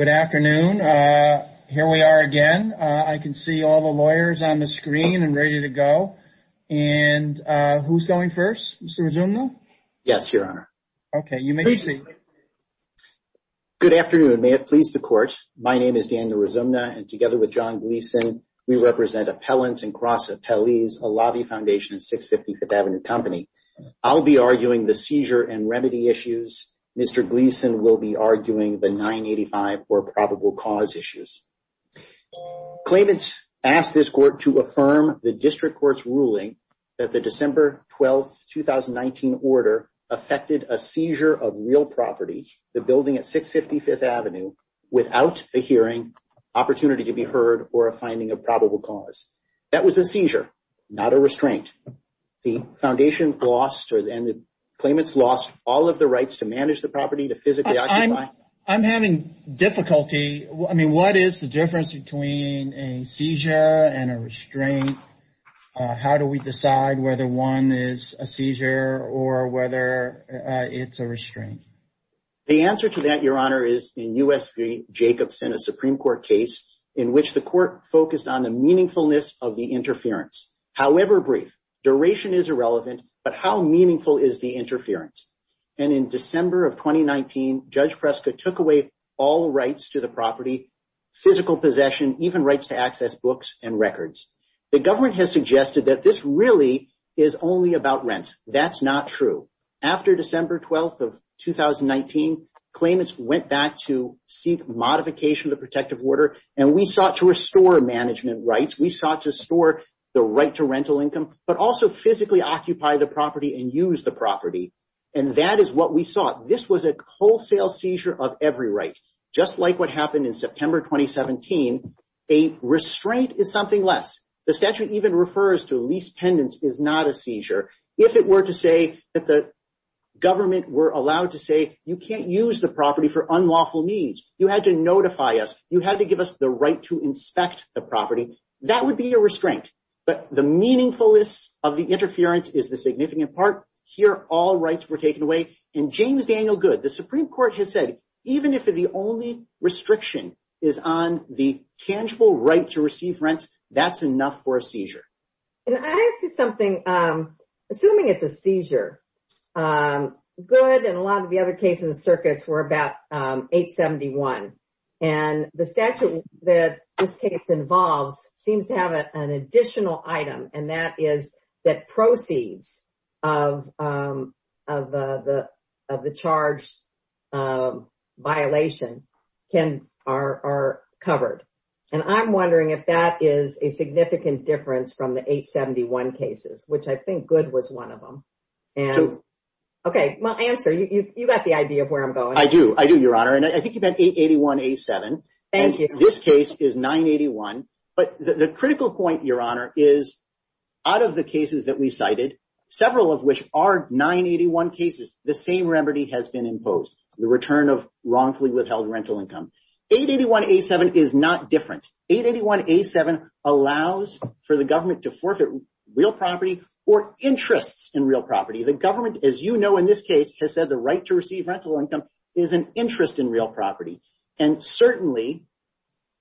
Good afternoon. Here we are again. I can see all the lawyers on the screen and ready to go. And who's going first? Mr. Rizumno? Yes, Your Honor. Okay, you may proceed. Good afternoon. May it please the Court, my name is Daniel Rizumno and together with John Gleason, we represent Appellants and Cross Appellees, a lobby foundation in 650 Fifth Avenue Company. I'll be arguing the seizure and remedy issues. Mr. Gleason will be arguing the 985 or probable cause issues. Claimants asked this Court to affirm the District Court's ruling that the December 12, 2019 order affected a seizure of real property, the building at 650 Fifth Avenue, without a hearing, opportunity to be heard, or a finding of probable cause. That was a seizure, not a restraint. The foundation lost, and the claimants lost, all of the rights to manage the property, to physically occupy it. I'm having difficulty. I mean, what is the difference between a seizure and a restraint? How do we decide whether one is a seizure or whether it's a restraint? The answer to that, Your Honor, is in U.S. v. Jacobson, a Supreme Court case, in which the Court focused on the meaningfulness of the interference. However brief, duration is irrelevant, but how meaningful is the interference? And in December of 2019, Judge Preska took away all rights to the property, physical possession, even rights to access books and records. The government has suggested that this really is only about rent. That's not true. After December 12, 2019, claimants went back to seek modification of the protective order, and we sought to restore management rights. We sought to restore the right to rental income, but also physically occupy the property and use the property. And that is what we sought. This was a wholesale seizure of every right. Just like what happened in September 2017, a restraint is something less. The statute even refers to lease pendants is not a seizure. If it were to say that the government were allowed to say, you can't use the property for unlawful needs, you had to notify us, you had to give us the right to inspect the property, that would be a restraint. But the meaningfulness of the interference is the significant part. Here, all rights were taken away. And James Daniel Goode, the Supreme Court, has said, even if the only restriction is on the tangible right to receive rent, that's enough for a seizure. I have to say something. Assuming it's a seizure, Goode and a lot of the other cases and circuits were about 871. And the statute that this case involves seems to have an additional item, and that is that proceeds of the charge violation are covered. And I'm wondering if that is a significant difference from the 871 cases, which I think Goode was one of them. OK, well, answer. You got the idea of where I'm going. I do. I do, Your Honor. And I think you've had 881A7. And this case is 981. But the critical point, Your Honor, is out of the cases that we cited, several of which are 981 cases, the same remedy has been imposed. The return of wrongfully withheld rental income. 881A7 is not different. 881A7 allows for the government to forfeit real property or interests in real property. The government, as you know, in this case, has said the right to receive rental income is an interest in real property. And certainly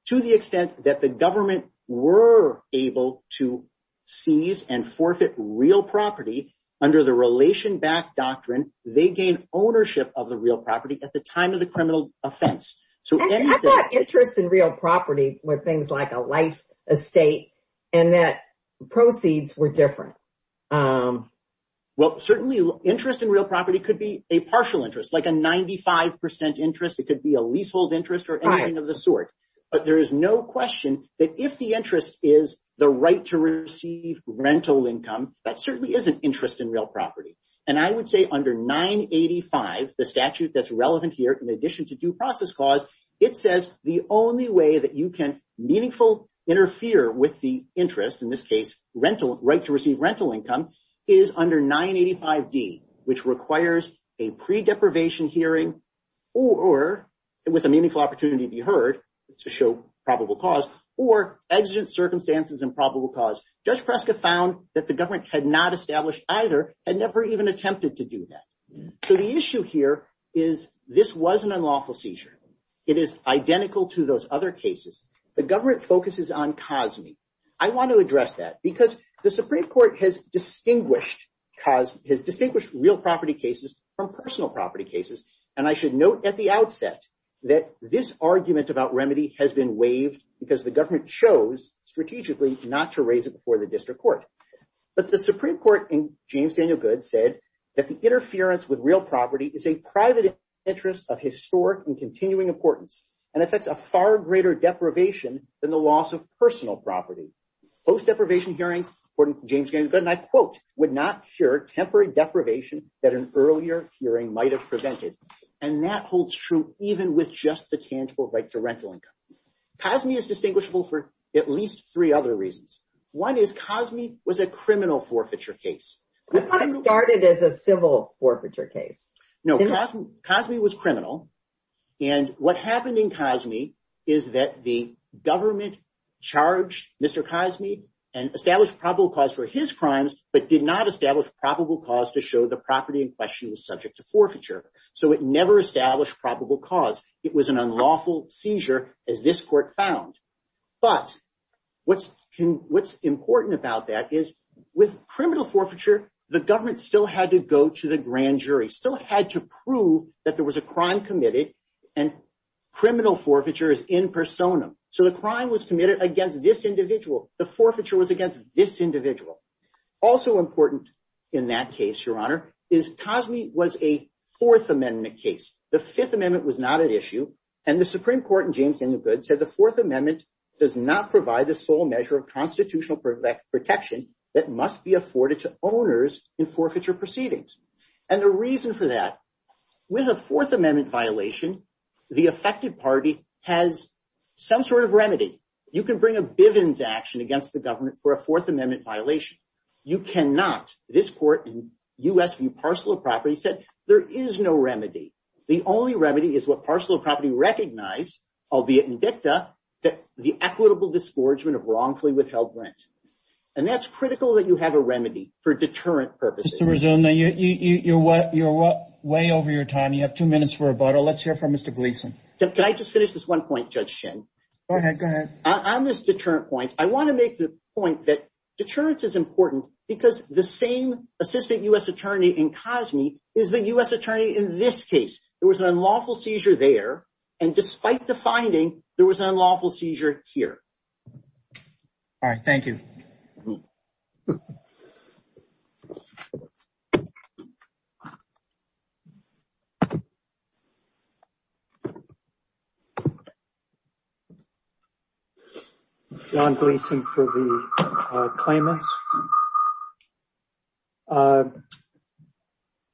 to the extent that the government were able to seize and forfeit real property under the relation back doctrine, they gain ownership of the real property at the time of the criminal offense. I thought interest in real property were things like a life estate and that proceeds were different. Well, certainly interest in real property could be a partial interest, like a 95 percent interest. It could be a leasehold interest or anything of the sort. But there is no question that if the interest is the right to receive rental income, that certainly is an interest in real property. And I would say under 985, the statute that's relevant here, in addition to due process clause, it says the only way that you can meaningful interfere with the interest, in this case, right to receive rental income, is under 985D, which requires a pre-deprivation hearing or with a meaningful opportunity to be heard to show probable cause or exigent circumstances and probable cause. Judge Prescott found that the government had not established either and never even attempted to do that. So the issue here is this was an unlawful seizure. It is identical to those other cases. The government focuses on cosme. I want to address that because the Supreme Court has distinguished real property cases from personal property cases. And I should note at the outset that this argument about remedy has been waived because the government chose strategically not to raise it before the district court. But the Supreme Court in James Daniel Goode said that the interference with real property is a private interest of historic and continuing importance and affects a far greater deprivation than the loss of personal property. Post-deprivation hearings, James Daniel Goode and I quote, would not cure temporary deprivation that an earlier hearing might have prevented. And that holds true even with just the tangible right to rental income. Cosme is distinguishable for at least three other reasons. One is cosme was a criminal forfeiture case. I thought it started as a civil forfeiture case. No, cosme was criminal. And what happened in cosme is that the government charged Mr. Cosme and established probable cause for his crimes, but did not establish probable cause to show the property in question was subject to forfeiture. So it never established probable cause. It was an unlawful seizure as this court found. But what's important about that is with criminal forfeiture, the government still had to go to the grand jury, still had to prove that there was a crime committed and criminal forfeiture is in personam. So the crime was committed against this individual. The forfeiture was against this individual. Also important in that case, Your Honor, is cosme was a Fourth Amendment case. The Fifth Amendment was not an issue. And the Supreme Court in James Daniel Goode said the Fourth Amendment does not provide the sole measure of constitutional protection that must be afforded to owners in forfeiture proceedings. And the reason for that, with a Fourth Amendment violation, the affected party has some sort of remedy. You can bring a Bivens action against the government for a Fourth Amendment violation. You cannot. This court in U.S. v. Parcel of Property said there is no remedy. The only remedy is what Parcel of Property recognized, albeit in dicta, that the equitable disgorgement of wrongfully withheld rent. And that's critical that you have a remedy for deterrent purposes. Mr. Rizzone, you're way over your time. You have two minutes for rebuttal. Let's hear from Mr. Gleeson. Can I just finish this one point, Judge Shin? Go ahead. Go ahead. On this deterrent point, I want to make the point that deterrence is important because the same assistant U.S. attorney in COSME is the U.S. attorney in this case. There was an unlawful seizure there. And despite the finding, there was an unlawful seizure here. All right. Thank you. John Gleeson for the claimants.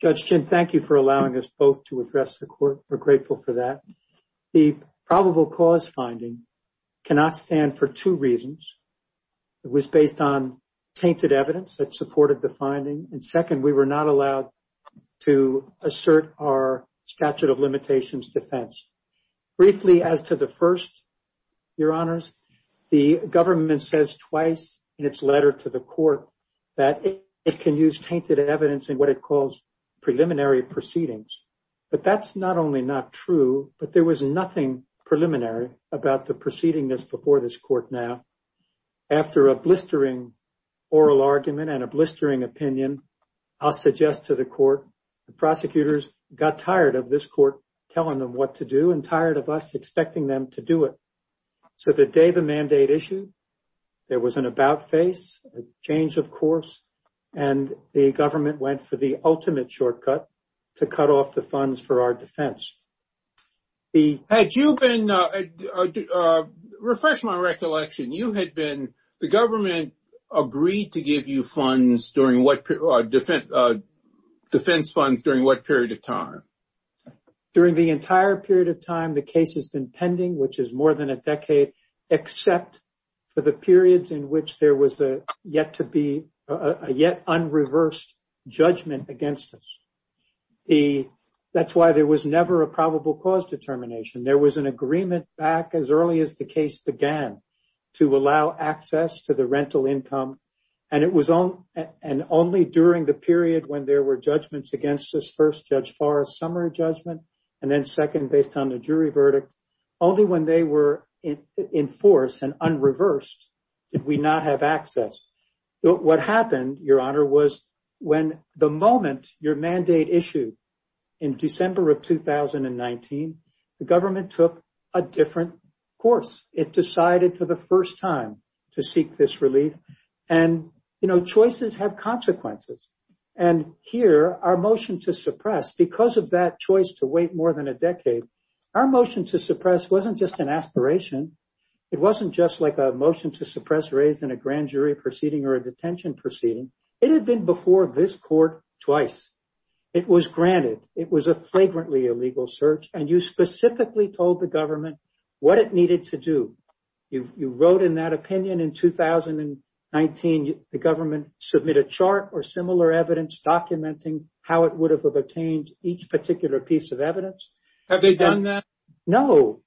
Judge Shin, thank you for allowing us both to address the court. We're grateful for that. The probable cause finding cannot stand for two reasons. It was based on tainted evidence that supported the finding. And second, we were not allowed to assert our statute of limitations defense. Briefly, as to the first, Your Honors, the government says twice in its letter to the court that it can use tainted evidence in what it calls preliminary proceedings. But that's not only not true, but there was nothing preliminary about the proceedings before this court now. After a blistering oral argument and a blistering opinion, I'll suggest to the court, the prosecutors got tired of this court telling them what to do and tired of us expecting them to do it. So the day the mandate issue, there was an about face, a change of course, and the government went for the ultimate shortcut to cut off the funds for our defense. Had you been, refresh my recollection, you had been, the government agreed to give you funds during what, defense funds during what period of time? During the entire period of time, the case has been pending, which is more than a decade, except for the periods in which there was a yet to be, a yet unreversed judgment against us. That's why there was never a probable cause determination. There was an agreement back as early as the case began to allow access to the rental income. And it was only during the period when there were judgments against us, first Judge Farr's summary judgment, and then second based on the jury verdict, only when they were in force and unreversed did we not have access. What happened, Your Honor, was when the moment your mandate issued in December of 2019, the government took a different course. It decided for the first time to seek this relief and, you know, choices have consequences. And here, our motion to suppress, because of that choice to wait more than a decade, our motion to suppress wasn't just an aspiration. It wasn't just like a motion to suppress raised in a grand jury proceeding or a detention proceeding. It had been before this court twice. It was granted. It was a flagrantly illegal search, and you specifically told the government what it needed to do. You wrote in that opinion in 2019 the government submit a chart or similar evidence documenting how it would have obtained each particular piece of evidence. Have they done that? No,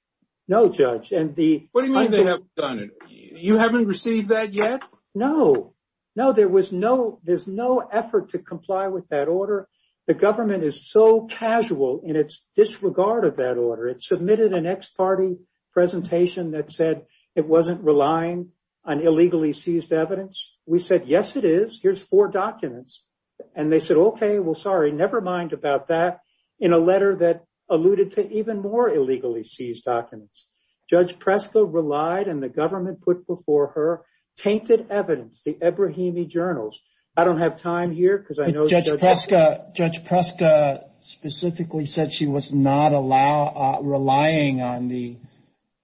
no, Judge. What do you mean they haven't done it? You haven't received that yet? No, no, there was no, there's no effort to comply with that order. The government is so casual in its disregard of that order. It submitted an ex-party presentation that said it wasn't relying on illegally seized evidence. We said, yes, it is. Here's four documents. And they said, OK, well, sorry, never mind about that, in a letter that alluded to even more illegally seized documents. Judge Preska relied and the government put before her tainted evidence, the Ebrahimi journals. I don't have time here because I know... Judge Preska specifically said she was not relying on the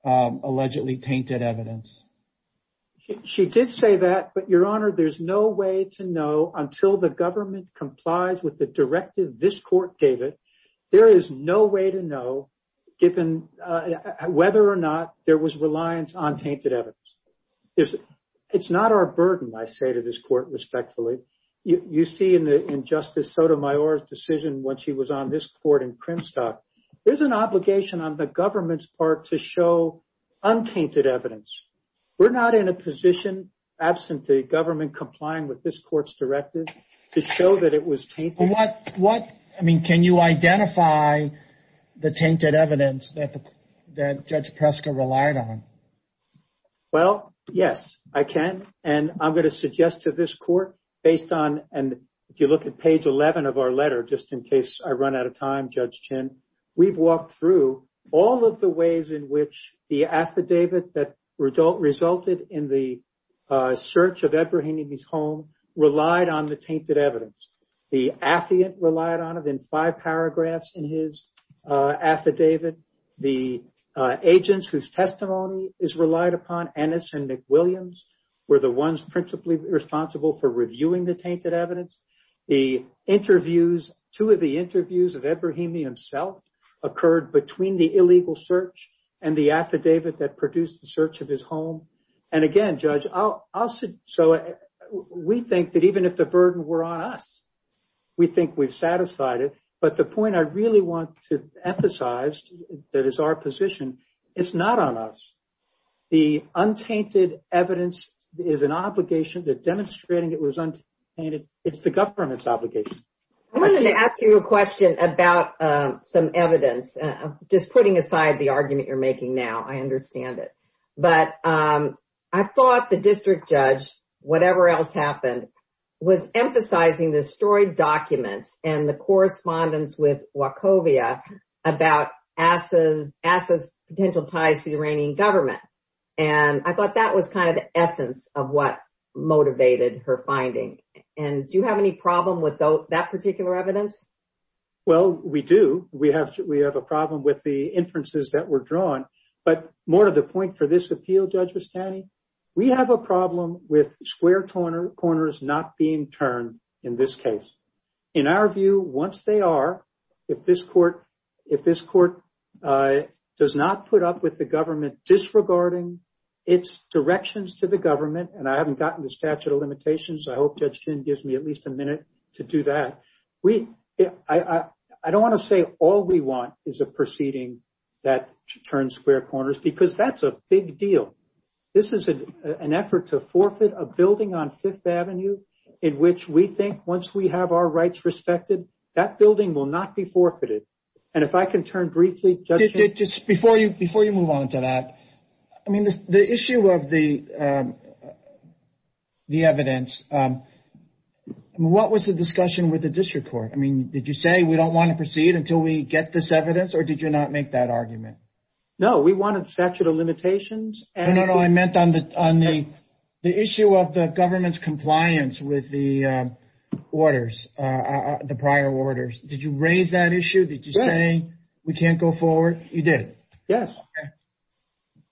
allegedly tainted evidence. She did say that, but, Your Honor, there's no way to know until the government complies with the directive this court gave it. There is no way to know whether or not there was reliance on tainted evidence. It's not our burden, I say to this court respectfully. You see in Justice Sotomayor's decision when she was on this court in Crimstock. There's an obligation on the government's part to show untainted evidence. We're not in a position, absent the government complying with this court's directive, to show that it was tainted. I mean, can you identify the tainted evidence that Judge Preska relied on? Well, yes, I can. And I'm going to suggest to this court, based on... And if you look at page 11 of our letter, just in case I run out of time, Judge Chin. We've walked through all of the ways in which the affidavit that resulted in the search of Ebrahimi's home relied on the tainted evidence. The affidavit relied on it in five paragraphs in his affidavit. The agents whose testimony is relied upon, Ennis and McWilliams, were the ones principally responsible for reviewing the tainted evidence. The interviews, two of the interviews of Ebrahimi himself, occurred between the illegal search and the affidavit that produced the search of his home. And again, Judge, we think that even if the burden were on us, we think we've satisfied it. But the point I really want to emphasize that is our position, it's not on us. The untainted evidence is an obligation. They're demonstrating it was untainted. It's the government's obligation. I wanted to ask you a question about some evidence, just putting aside the argument you're making now. I understand it. But I thought the district judge, whatever else happened, was emphasizing the destroyed documents and the correspondence with Wachovia about Asa's potential ties to the Iranian government. And I thought that was kind of the essence of what motivated her finding. And do you have any problem with that particular evidence? Well, we do. We have a problem with the inferences that were drawn. But more to the point for this appeal, Judge Bastani, we have a problem with square corners not being turned in this case. In our view, once they are, if this court does not put up with the government disregarding its directions to the government, and I haven't gotten the statute of limitations, I hope Judge Chin gives me at least a minute to do that. I don't want to say all we want is a proceeding that turns square corners because that's a big deal. This is an effort to forfeit a building on Fifth Avenue in which we think once we have our rights respected, that building will not be forfeited. And if I can turn briefly, Judge Chin. Before you move on to that, the issue of the evidence, what was the discussion with the district court? Did you say we don't want to proceed until we get this evidence or did you not make that argument? No, we wanted statute of limitations. No, no, no. I meant on the issue of the government's compliance with the prior orders. Did you raise that issue? Did you say we can't go forward? You did. Yes.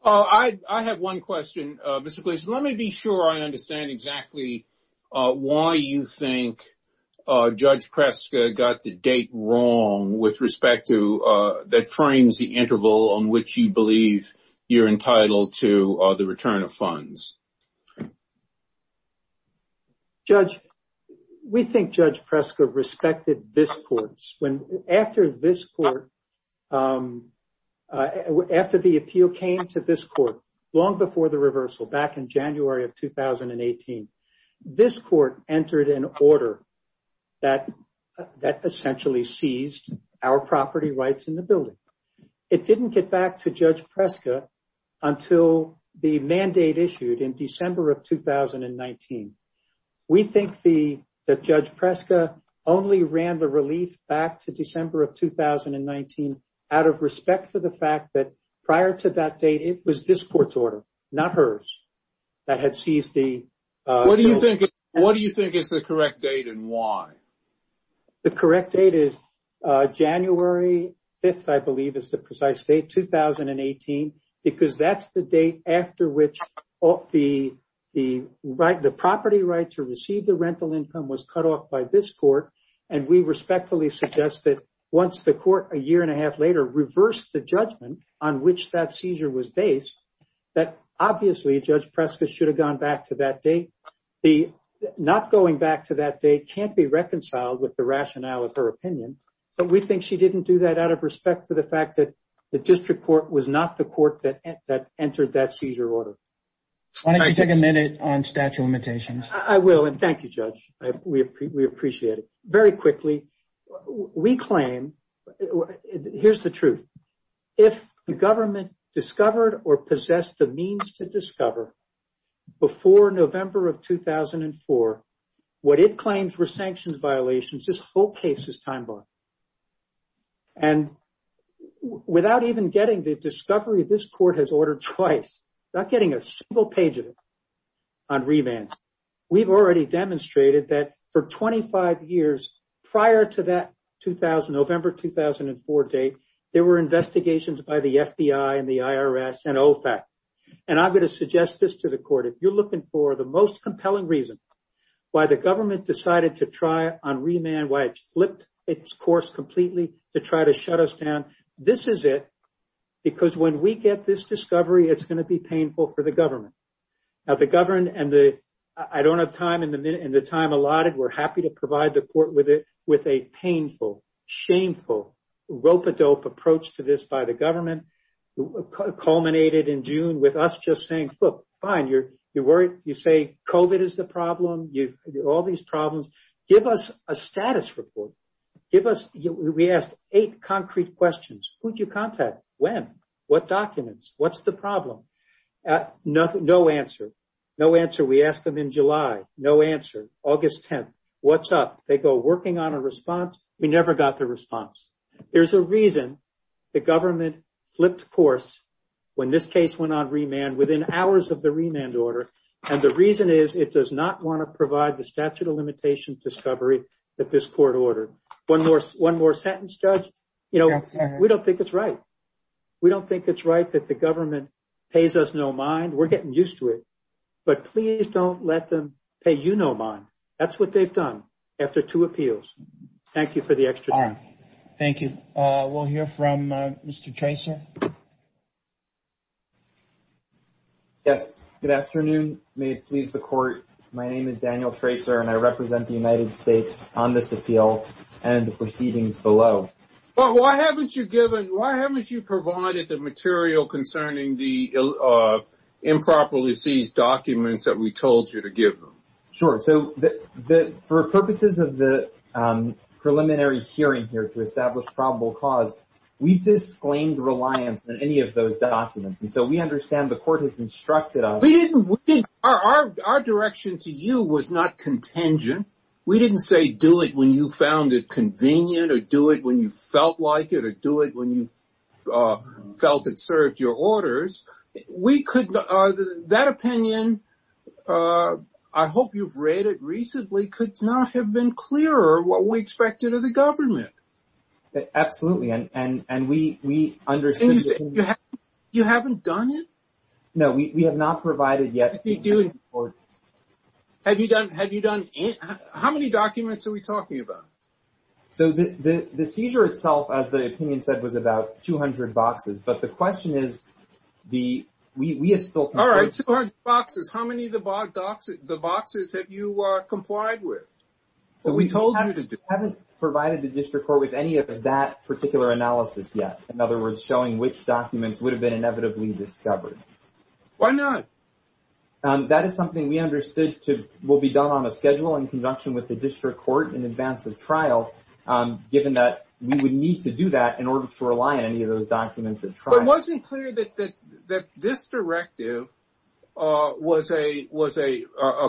I have one question, Mr. Glaser. Let me be sure I understand exactly why you think Judge Preska got the date wrong with respect to that frames the interval on which you believe you're entitled to the return of funds. Judge, we think Judge Preska respected this court. After this court, after the appeal came to this court long before the reversal back in January of 2018, this court entered an order that essentially seized our property rights in the building. It didn't get back to Judge Preska until the mandate issued in December of 2019. We think that Judge Preska only ran the relief back to December of 2019 out of respect for the fact that prior to that date, it was this court's order, not hers, that had seized the. What do you think is the correct date and why? The correct date is January 5th, I believe, is the precise date, 2018, because that's the date after which the property right to receive the rental income was cut off by this court. And we respectfully suggest that once the court, a year and a half later, reversed the judgment on which that seizure was based, that obviously Judge Preska should have gone back to that date. The not going back to that date can't be reconciled with the rationale of her opinion. But we think she didn't do that out of respect for the fact that the district court was not the court that entered that seizure order. Why don't you take a minute on statute of limitations? I will. And thank you, Judge. We appreciate it. Very quickly, we claim, here's the truth. If the government discovered or possessed the means to discover before November of 2004, what it claims were sanctions violations, this whole case is time-bombed. And without even getting the discovery, this court has ordered twice, not getting a single page of it on remand. We've already demonstrated that for 25 years prior to that November 2004 date, there were investigations by the FBI and the IRS and OFAC. And I'm going to suggest this to the court. If you're looking for the most compelling reason why the government decided to try on remand, why it flipped its course completely to try to shut us down, this is it. Because when we get this discovery, it's going to be painful for the government. I don't have time. In the time allotted, we're happy to provide the court with a painful, shameful, rope-a-dope approach to this by the government. It culminated in June with us just saying, look, fine, you say COVID is the problem, all these problems. Give us a status report. We asked eight concrete questions. Who did you contact? When? What documents? What's the problem? No answer. No answer. We asked them in July. No answer. August 10th. What's up? They go, working on a response. We never got the response. There's a reason the government flipped course when this case went on remand within hours of the remand order. And the reason is it does not want to provide the statute of limitations discovery that this court ordered. One more sentence, Judge. We don't think it's right. We don't think it's right that the government pays us no mind. We're getting used to it. But please don't let them pay you no mind. That's what they've done after two appeals. Thank you for the extra time. Thank you. We'll hear from Mr. Tracer. Yes. Good afternoon. May it please the court. My name is Daniel Tracer and I represent the United States on this appeal and the proceedings below. Why haven't you provided the material concerning the improperly seized documents that we told you to give them? Sure. So for purposes of the preliminary hearing here to establish probable cause, we've disclaimed reliance on any of those documents. And so we understand the court has instructed us. Our direction to you was not contingent. We didn't say do it when you found it convenient or do it when you felt like it or do it when you felt it served your orders. That opinion, I hope you've read it recently, could not have been clearer what we expected of the government. Absolutely. And we understand. You haven't done it? No, we have not provided yet. Have you done it? How many documents are we talking about? So the seizure itself, as the opinion said, was about 200 boxes. But the question is, we have still... All right. 200 boxes. How many of the boxes have you complied with? We haven't provided the district court with any of that particular analysis yet. In other words, showing which documents would have been inevitably discovered. Why not? That is something we understood will be done on a schedule in conjunction with the district court in advance of trial, given that we would need to do that in order to rely on any of those documents at trial. But it wasn't clear that this directive was a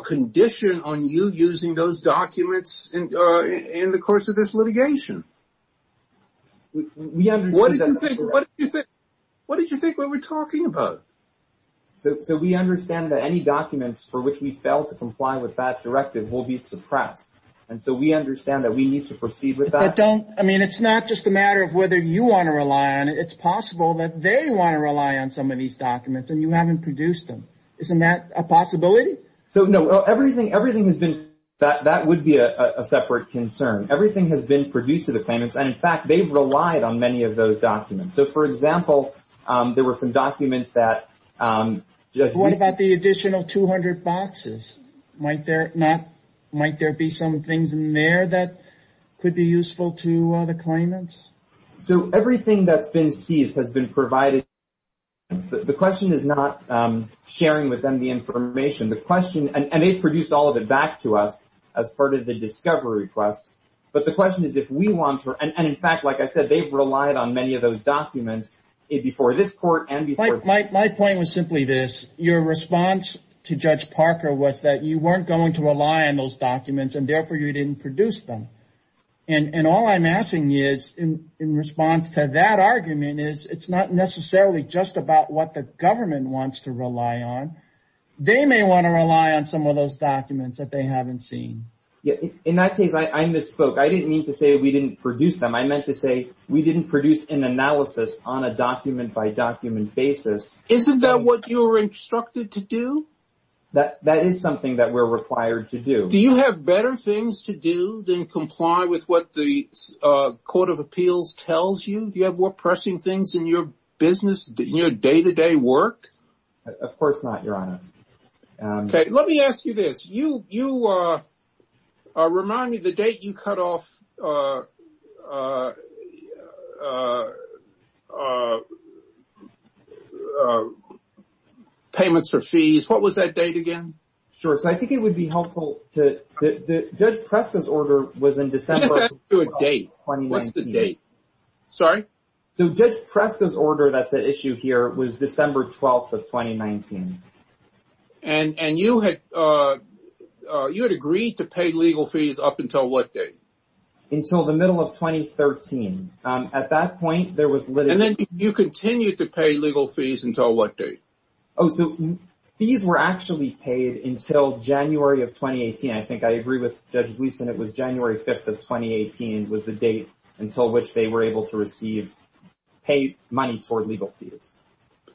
condition on you using those documents in the course of this litigation. What did you think we were talking about? So we understand that any documents for which we fail to comply with that directive will be suppressed. And so we understand that we need to proceed with that. But don't... I mean, it's not just a matter of whether you want to rely on it. It's possible that they want to rely on some of these documents and you haven't produced them. Isn't that a possibility? So, no. Everything has been... That would be a separate concern. Everything has been produced to the claimants. And in fact, they've relied on many of those documents. So, for example, there were some documents that... What about the additional 200 boxes? Might there be some things in there that could be useful to the claimants? So everything that's been seized has been provided... The question is not sharing with them the information. The question... And they've produced all of it back to us as part of the discovery request. But the question is if we want to... And in fact, like I said, they've relied on many of those documents before this court and before... My point was simply this. Your response to Judge Parker was that you weren't going to rely on those documents and therefore you didn't produce them. And all I'm asking is, in response to that argument, is it's not necessarily just about what the government wants to rely on. They may want to rely on some of those documents that they haven't seen. In that case, I misspoke. I didn't mean to say we didn't produce them. I meant to say we didn't produce an analysis on a document-by-document basis. Isn't that what you were instructed to do? That is something that we're required to do. Do you have better things to do than comply with what the Court of Appeals tells you? Do you have more pressing things in your business, in your day-to-day work? Of course not, Your Honor. Let me ask you this. You remind me of the date you cut off payments for fees. What was that date again? I think it would be helpful to... Judge Preston's order was in December 12, 2019. What's the date? Judge Preston's order that's at issue here was December 12, 2019. And you had agreed to pay legal fees up until what date? Until the middle of 2013. At that point, there was literally... And then you continued to pay legal fees until what date? Oh, so fees were actually paid until January of 2018. I think I agree with Judge Gleeson. It was January 5, 2018 was the date until which they were able to receive paid money toward legal fees.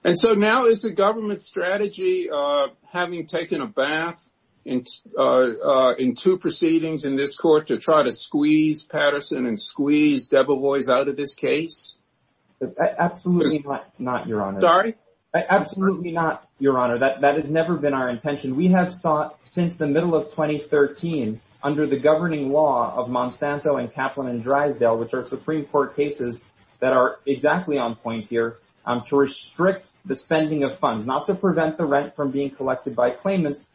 And so now is the government's strategy, having taken a bath in two proceedings in this court, to try to squeeze Patterson and squeeze Debevoise out of this case? Absolutely not, Your Honor. Sorry? Absolutely not, Your Honor. That has never been our intention. We have sought since the middle of 2013, under the governing law of Monsanto and Kaplan and Drysdale, which are Supreme Court cases that are exactly on point here, to restrict the spending of funds, not to prevent the rent from being collected by claimants.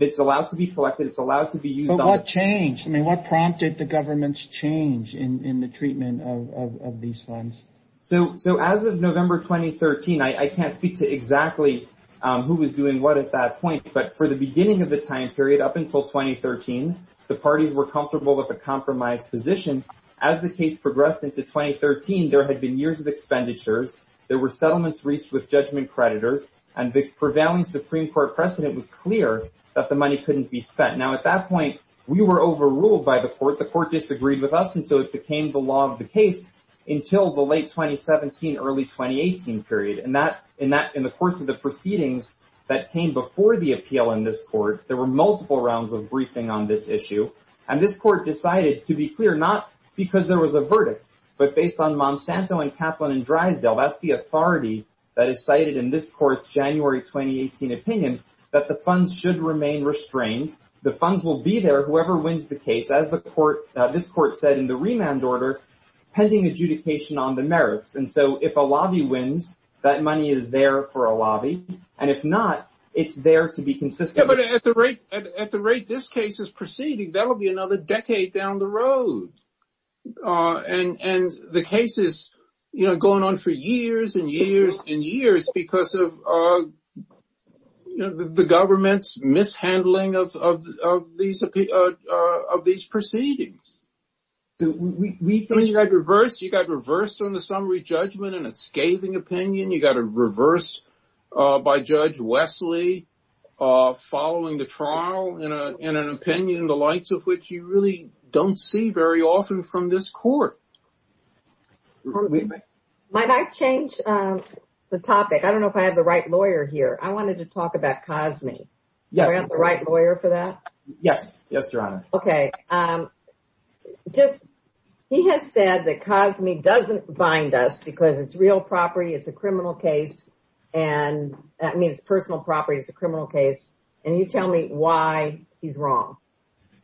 It's allowed to be collected, it's allowed to be used... But what changed? I mean, what prompted the government's change in the treatment of these funds? So as of November 2013, I can't speak to exactly who was doing what at that point. But for the beginning of the time period, up until 2013, the parties were comfortable with a compromised position. As the case progressed into 2013, there had been years of expenditures, there were settlements reached with judgment creditors, and the prevailing Supreme Court precedent was clear that the money couldn't be spent. Now, at that point, we were overruled by the court. The court disagreed with us, and so it became the law of the case until the late 2017, early 2018 period. And in the course of the proceedings that came before the appeal in this court, there were multiple rounds of briefing on this issue. And this court decided, to be clear, not because there was a verdict, but based on Monsanto and Kaplan and Drysdale, that's the authority that is cited in this court's January 2018 opinion, that the funds should remain restrained. The funds will be there whoever wins the case, as this court said in the remand order, pending adjudication on the merits. And so if a lobby wins, that money is there for a lobby. And if not, it's there to be consistent. And at the rate this case is proceeding, that will be another decade down the road. And the case is going on for years and years and years because of the government's mishandling of these proceedings. You got reversed on the summary judgment in a scathing opinion. You got a reverse by Judge Wesley following the trial in an opinion, the likes of which you really don't see very often from this court. Might I change the topic? I don't know if I have the right lawyer here. I wanted to talk about Cosme. Do I have the right lawyer for that? Yes, Your Honor. Okay. He has said that Cosme doesn't bind us because it's real property. It's a criminal case. I mean, it's personal property. It's a criminal case. And you tell me why he's wrong.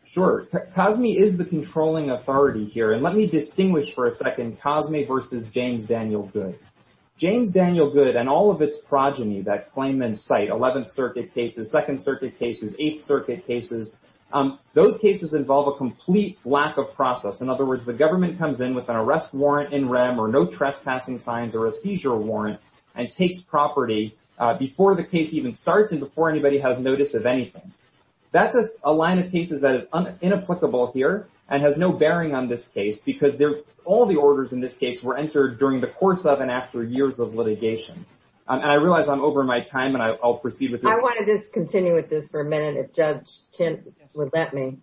Sure. Cosme is the controlling authority here. And let me distinguish for a second Cosme versus James Daniel Goode. James Daniel Goode and all of its progeny that claim in sight, 11th Circuit cases, 2nd Circuit cases, 8th Circuit cases, those cases involve a complete lack of process. In other words, the government comes in with an arrest warrant in rem or no trespassing signs or a seizure warrant and takes property before the case even starts and before anybody has notice of anything. That's a line of cases that is inapplicable here and has no bearing on this case because all the orders in this case were entered during the course of and after years of litigation. And I realize I'm over my time and I'll proceed with it. I want to just continue with this for a minute if Judge Chin would let me.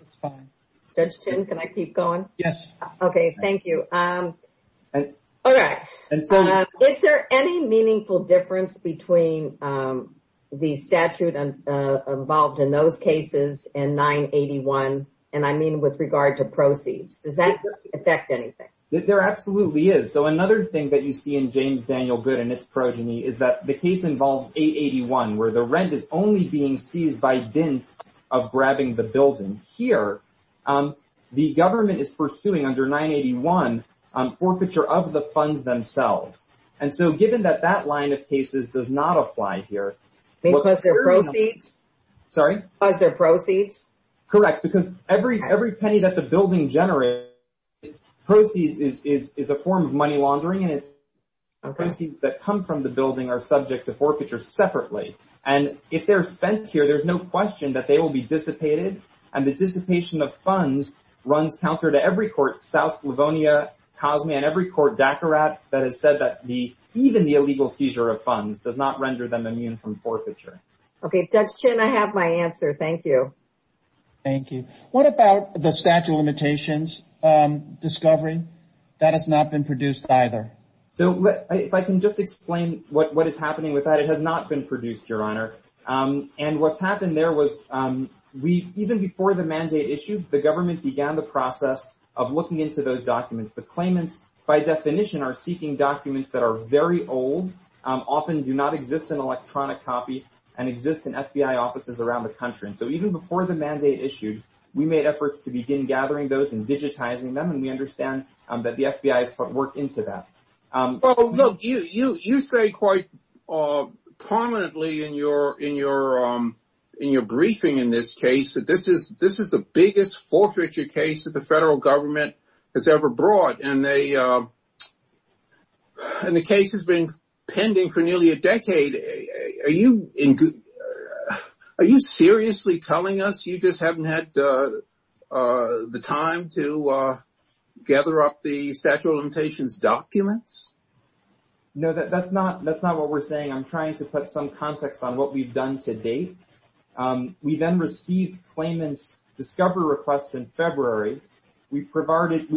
It's fine. Judge Chin, can I keep going? Yes. Okay, thank you. All right. Is there any meaningful difference between the statute involved in those cases and 981? And I mean with regard to proceeds. Does that affect anything? There absolutely is. So another thing that you see in James Daniel Goode and its progeny is that the case involves 881 where the rent is only being seized by dint of grabbing the building. Here, the government is pursuing under 981 forfeiture of the funds themselves. And so given that that line of cases does not apply here. Because they're proceeds? Sorry? Because they're proceeds? Correct. Because every penny that the building generates proceeds is a form of money laundering and proceeds that come from the building are subject to forfeiture separately. And if they're spent here, there's no question that they will be dissipated. And the dissipation of funds runs counter to every court, South Livonia, Cosme, and every court, Dakarat, that has said that even the illegal seizure of funds does not render them immune from forfeiture. Okay, Judge Chin, I have my answer. Thank you. Thank you. What about the statute of limitations discovery? That has not been produced either. So if I can just explain what is happening with that. It has not been produced, Your Honor. What happened there was even before the mandate issued, the government began the process of looking into those documents. The claimants, by definition, are seeking documents that are very old, often do not exist in electronic copy, and exist in FBI offices around the country. And so even before the mandate issued, we made efforts to begin gathering those and digitizing them. And we understand that the FBI has put work into that. Well, look, you say quite prominently in your briefing in this case that this is the biggest forfeiture case that the federal government has ever brought. And the case has been pending for nearly a decade. Are you seriously telling us you just haven't had the time to gather up the statute of limitations documents? No, that's not what we're saying. I'm trying to put some context on what we've done to date. We then received claimants' discovery requests in February. We provided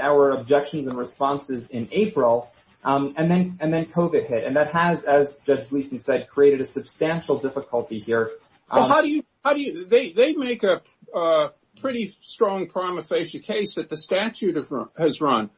our objections and responses in April. And then COVID hit. And that has, as Judge Gleeson said, created a substantial difficulty here. How do you... They make a pretty strong prima facie case that the statute has run.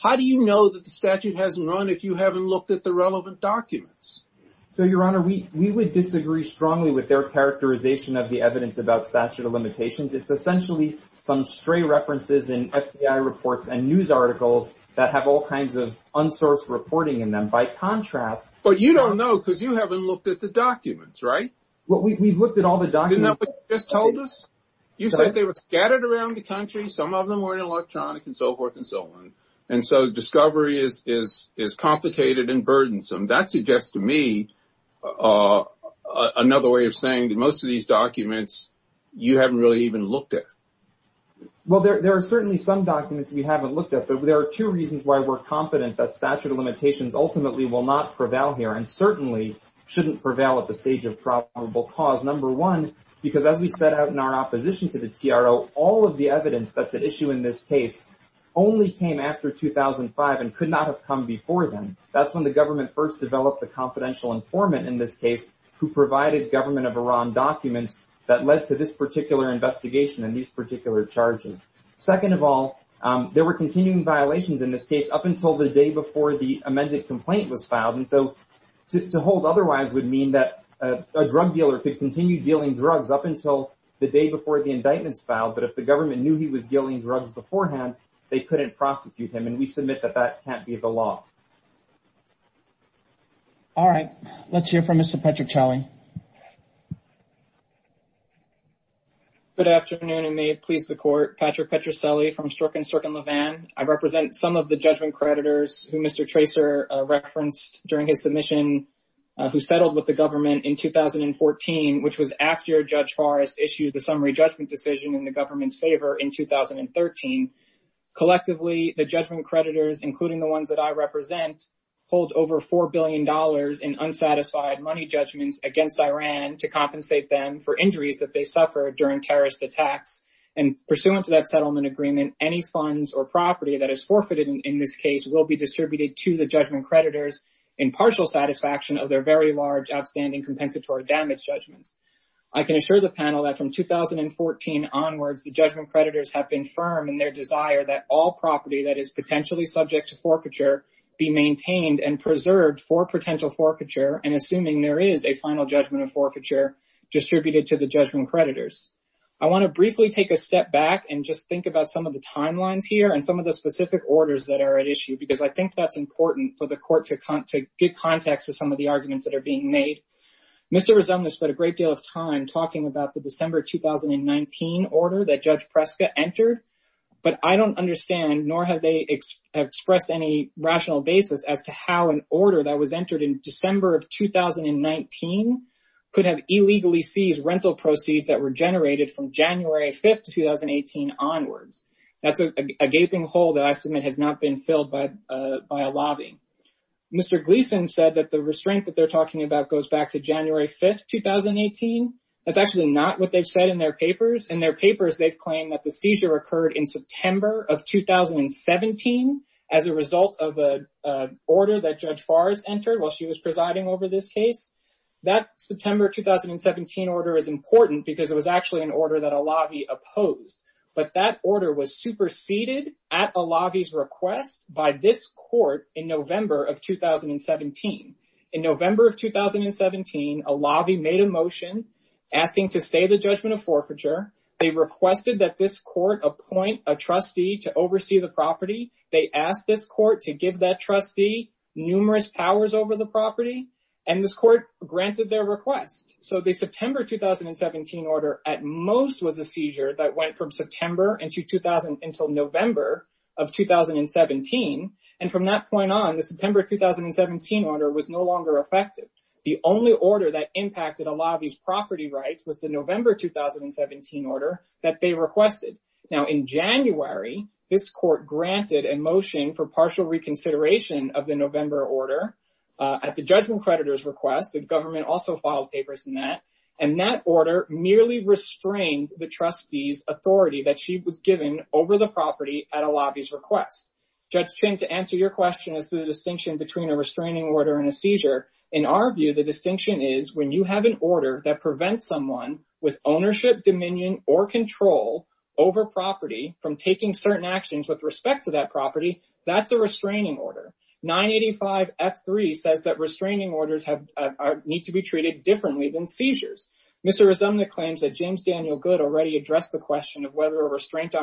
How do you know that the statute hasn't run if you haven't looked at the relevant documents? So, Your Honor, we would disagree strongly with their characterization of the evidence about statute of limitations. It's essentially some stray references in FBI reports and news articles that have all kinds of unsourced reporting in them. By contrast... But you don't know because you haven't looked at the documents, right? We've looked at all the documents. Didn't that what you just told us? You said they were scattered around the country. Some of them were in electronic and they were complicated and burdensome. That suggests to me another way of saying that most of these documents you haven't really even looked at. Well, there are certainly some documents we haven't looked at, but there are two reasons why we're confident that statute of limitations ultimately will not prevail here and certainly shouldn't prevail at the stage of probable cause. Number one, because as we set out in our opposition to the TRO, all of the evidence that's at issue in this case only came after 2005 and that's when the government first developed the confidential informant in this case who provided government of Iran documents that led to this particular investigation and these particular charges. Second of all, there were continuing violations in this case up until the day before the amended complaint was filed and so to hold otherwise would mean that a drug dealer could continue dealing drugs up until the day before the indictments filed, but if the government knew he was dealing drugs beforehand, they couldn't prosecute him and they couldn't hold him accountable. All right. Let's hear from Mr. Patrick Ciali. Good afternoon and may it please the court. Patrick Petrucelli from Stork & Stork & Levan. I represent some of the judgment creditors who Mr. Tracer referenced during his submission who settled with the government in 2014, which was after Judge Forrest issued the summary judgment decision in the government's favor in 2013. Collectively, the judgment creditors, including the ones that I represent, hold over $4 billion in unsatisfied money judgments against Iran to compensate them for injuries that they suffered during terrorist attacks, and pursuant to that settlement agreement, any funds or property that is forfeited in this case will be distributed to the judgment creditors in partial satisfaction of their very large outstanding compensatory damage judgments. I can assure the panel that from 2014 onwards, the judgment creditors have been firm in their desire that all property be retained and preserved for potential forfeiture and assuming there is a final judgment of forfeiture distributed to the judgment creditors. I want to briefly take a step back and just think about some of the timelines here and some of the specific orders that are at issue because I think that's important for the court to get context of some of the arguments that are being made. Mr. Rizomnes spent a great deal of time talking about the December 2019 order that Judge Preska entered, but I don't understand how an order that was entered in December of 2019 could have illegally seized rental proceeds that were generated from January 5th, 2018 onwards. That's a gaping hole that I submit has not been filled by a lobby. Mr. Gleason said that the restraint that they're talking about goes back to January 5th, 2018. That's actually not what they've said in their papers. In their papers, they've claimed that the seizure occurred in September of 2017 as a result of an order that Judge Farr has entered while she was presiding over this case. That September 2017 order is important because it was actually an order that a lobby opposed, but that order was superseded at a lobby's request by this court in November of 2017. In November of 2017, a lobby made a motion asking to stay the judgment of forfeiture. They requested that this court appoint a trustee to oversee the property. They asked this court to give that trustee numerous powers over the property, and this court granted their request. The September 2017 order at most was a seizure that went from September until November of 2017. From that point on, the September 2017 order was no longer effective. The only order that impacted a lobby's property rights was the November 2017 order. Now, in January, this court granted a motion for partial reconsideration of the November order at the judgment creditor's request. The government also filed papers in that, and that order merely restrained the trustee's authority that she was given over the property at a lobby's request. Judge Chin, to answer your question as to the distinction between a restraining order and a seizure, in our view, the distinction is when you have an order that prevents someone with ownership, dominion, or control over property from taking certain actions with respect to that property, that's a restraining order. 985F3 says that restraining orders need to be treated differently than seizures. Mr. Resumnik claims that James Daniel Goode already addressed the question of whether a restraint is a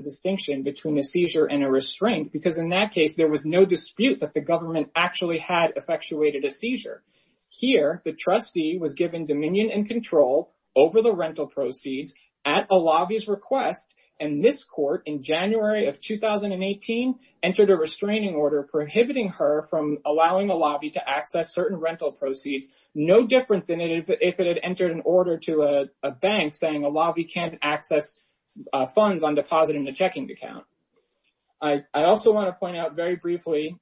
distinction between a seizure and a restraint because in that case, there was no dispute that the government actually had effectuated a seizure. Here, the trustee was given dominion and control over the rental proceeds at a lobby's request, and this court, in January of 2018, entered a restraining order prohibiting her from allowing a lobby to access her second account. I also want to point out very briefly,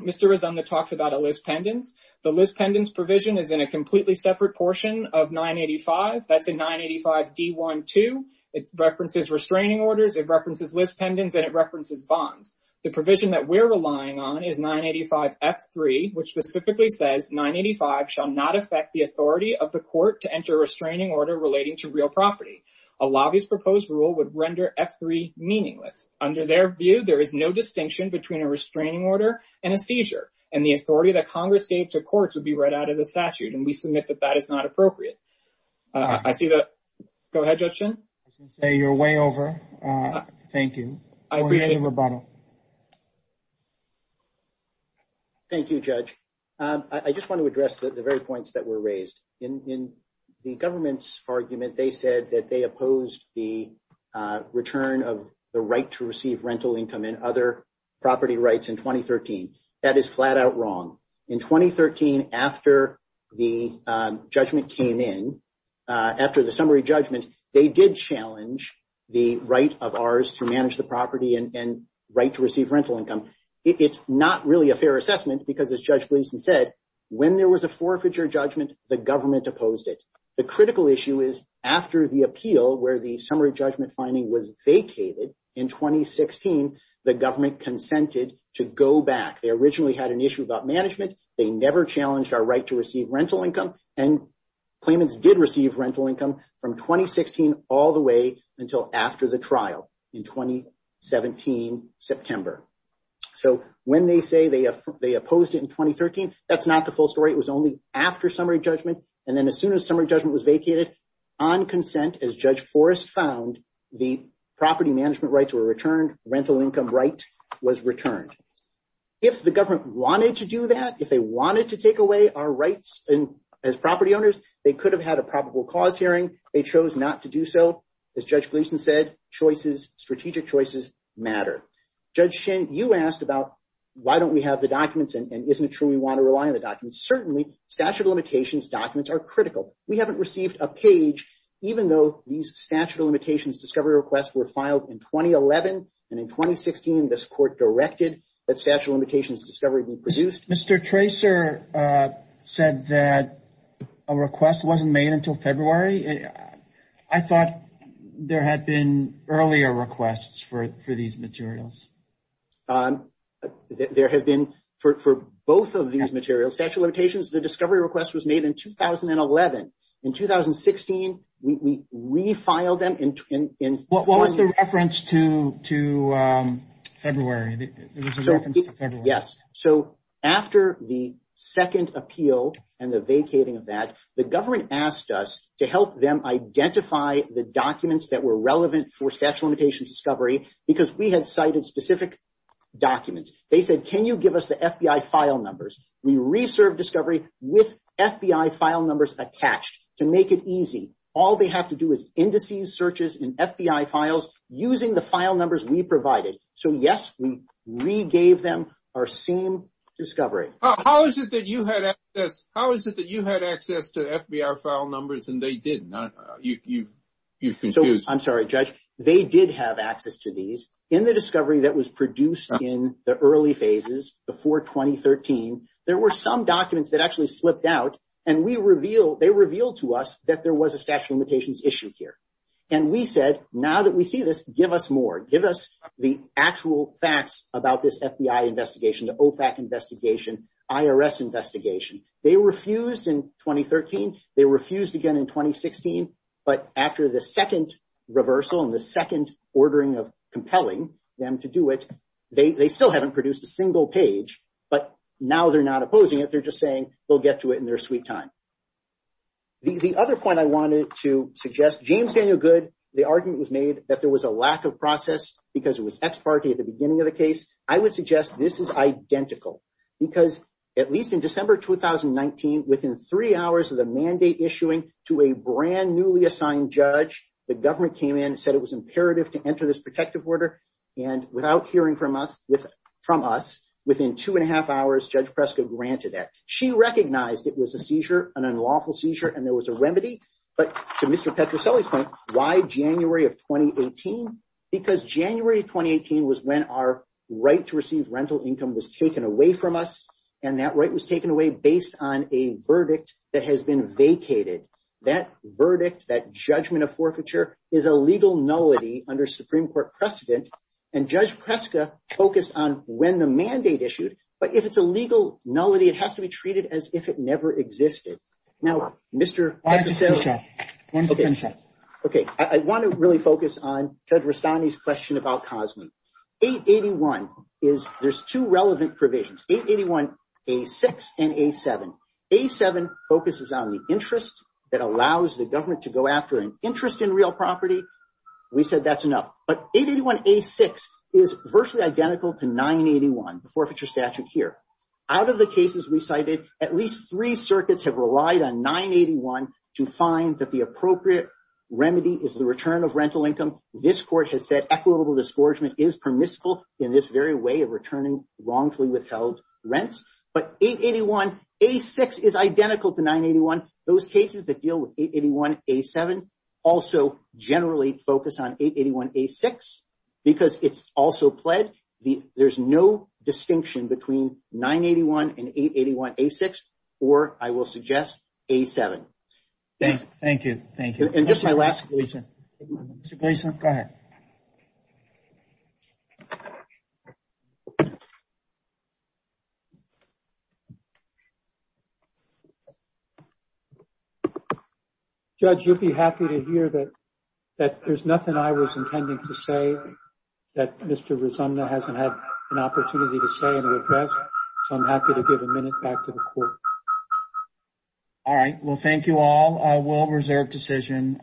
Mr. Resumnik talks about a list pendants. The list pendants provision is in a completely separate portion of 985. That's in 985D12. It references restraining orders, it references list pendants, and it references bonds. The provision that we're relying on is 985F3, which specifically says restraining orders are meaningless. Under their view, there is no distinction between a restraining order and a seizure, and the authority that Congress gave to courts would be read out of the statute, and we submit that that is not appropriate. Go ahead, Judge Chin. I was going to say, you're way over. Thank you. Thank you, Judge. I just want to address the very points that were raised. In the government's argument, they challenged our right to receive rental income and other property rights in 2013. That is flat-out wrong. In 2013, after the judgment came in, after the summary judgment, they did challenge the right of ours to manage the property and right to receive rental income. It's not really a fair assessment because, as Judge Gleeson said, when there was a forfeiture judgment, the government opposed it. The critical issue is after the appeal where the summary judgment finding was vacated in 2016, the government consented to go back. They originally had an issue about management. They never challenged our right to receive rental income, and claimants did receive rental income from 2016 all the way until after the trial in 2017 September. So when they say they opposed it in 2013, that's not the full story. It was only after summary judgment, summary judgment was vacated. On consent, as Judge Forrest found, the property management rights were returned. Rental income right was returned. If the government wanted to do that, if they wanted to take away our rights as property owners, they could have had a probable cause hearing. They chose not to do so. As Judge Gleeson said, choices, strategic choices matter. Judge Shin, you asked about why don't we have the documents and isn't it true we want to rely on the documents. Certainly, statute of limitations documents are critical. We haven't received a page, even though these statute of limitations discovery requests were filed in 2011, and in 2016 this court directed that statute of limitations discovery be produced. Mr. Tracer said that a request wasn't made until February. I thought there had been earlier requests for these materials. There have been, for both of these materials, for statute of limitations, the discovery request was made in 2011. In 2016, we refiled them. What was the reference to February? Yes. After the second appeal and the vacating of that, the government asked us to help them identify the documents that were relevant for statute of limitations discovery because we had cited specific documents. They said, can you give us the FBI file numbers? We re-served discovery with FBI file numbers attached to make it easy. All they have to do is indices, searches in FBI files using the file numbers we provided. So, yes, we re-gave them our same discovery. How is it that you had access to FBI file numbers and they didn't? You've confused me. I'm sorry, Judge. They did have access to these in the discovery that was produced in the early phases before 2013. There were some documents that actually slipped out and they revealed to us that there was a statute of limitations issue here. And we said, now that we see this, give us more. Give us the actual facts about this FBI investigation, the OFAC investigation, IRS investigation. They refused in 2013. They refused again in 2016. But after the second reversal and the second ordering of compelling them to do it, they still haven't produced a single page. But now they're not opposing it. They're just saying they'll get to it in their sweet time. The other point I wanted to suggest, James Daniel Goode, the argument was made that there was a lack of process because it was ex parte at the beginning of the case. I would suggest this is identical because at least in December 2019, within three hours of the mandate issuing to a brand newly assigned judge, the judge said it was imperative to enter this protective order. And without hearing from us, within two and a half hours, Judge Prescott granted that. She recognized it was a seizure, an unlawful seizure, and there was a remedy. But to Mr. Petroselli's point, why January of 2018? Because January 2018 was when our right to receive rental income was taken away from us. And that right was taken away based on a verdict that has been vacated. So it's a legal nullity under Supreme Court precedent. And Judge Prescott focused on when the mandate issued. But if it's a legal nullity, it has to be treated as if it never existed. Now, Mr. Petroselli. Okay. I want to really focus on Judge Rastani's question about COSME. 881, there's two relevant provisions. 881, A6, and A7. A7 focuses on the interest that allows the government to go after an interest in real property. We said that's enough. But 881A6 is virtually identical to 981, the forfeiture statute here. Out of the cases we cited, at least three circuits have relied on 981 to find that the appropriate remedy is the return of rental income. This court has said equitable discouragement is permissible in this very way of returning wrongfully withheld rents. But 881A6 is identical to 981. Those cases that deal with 881A6 and 881A7 also generally focus on 881A6 because it's also pled. There's no distinction between 981 and 881A6 or, I will suggest, A7. Thank you. And just my last question. Mr. Gleason, go ahead. I would be happy to hear that there's nothing I was intending to say that Mr. Rizumna hasn't had an opportunity to say in the address. So I'm happy to give a minute back to the court. All right. Well, thank you all. A well-reserved decision.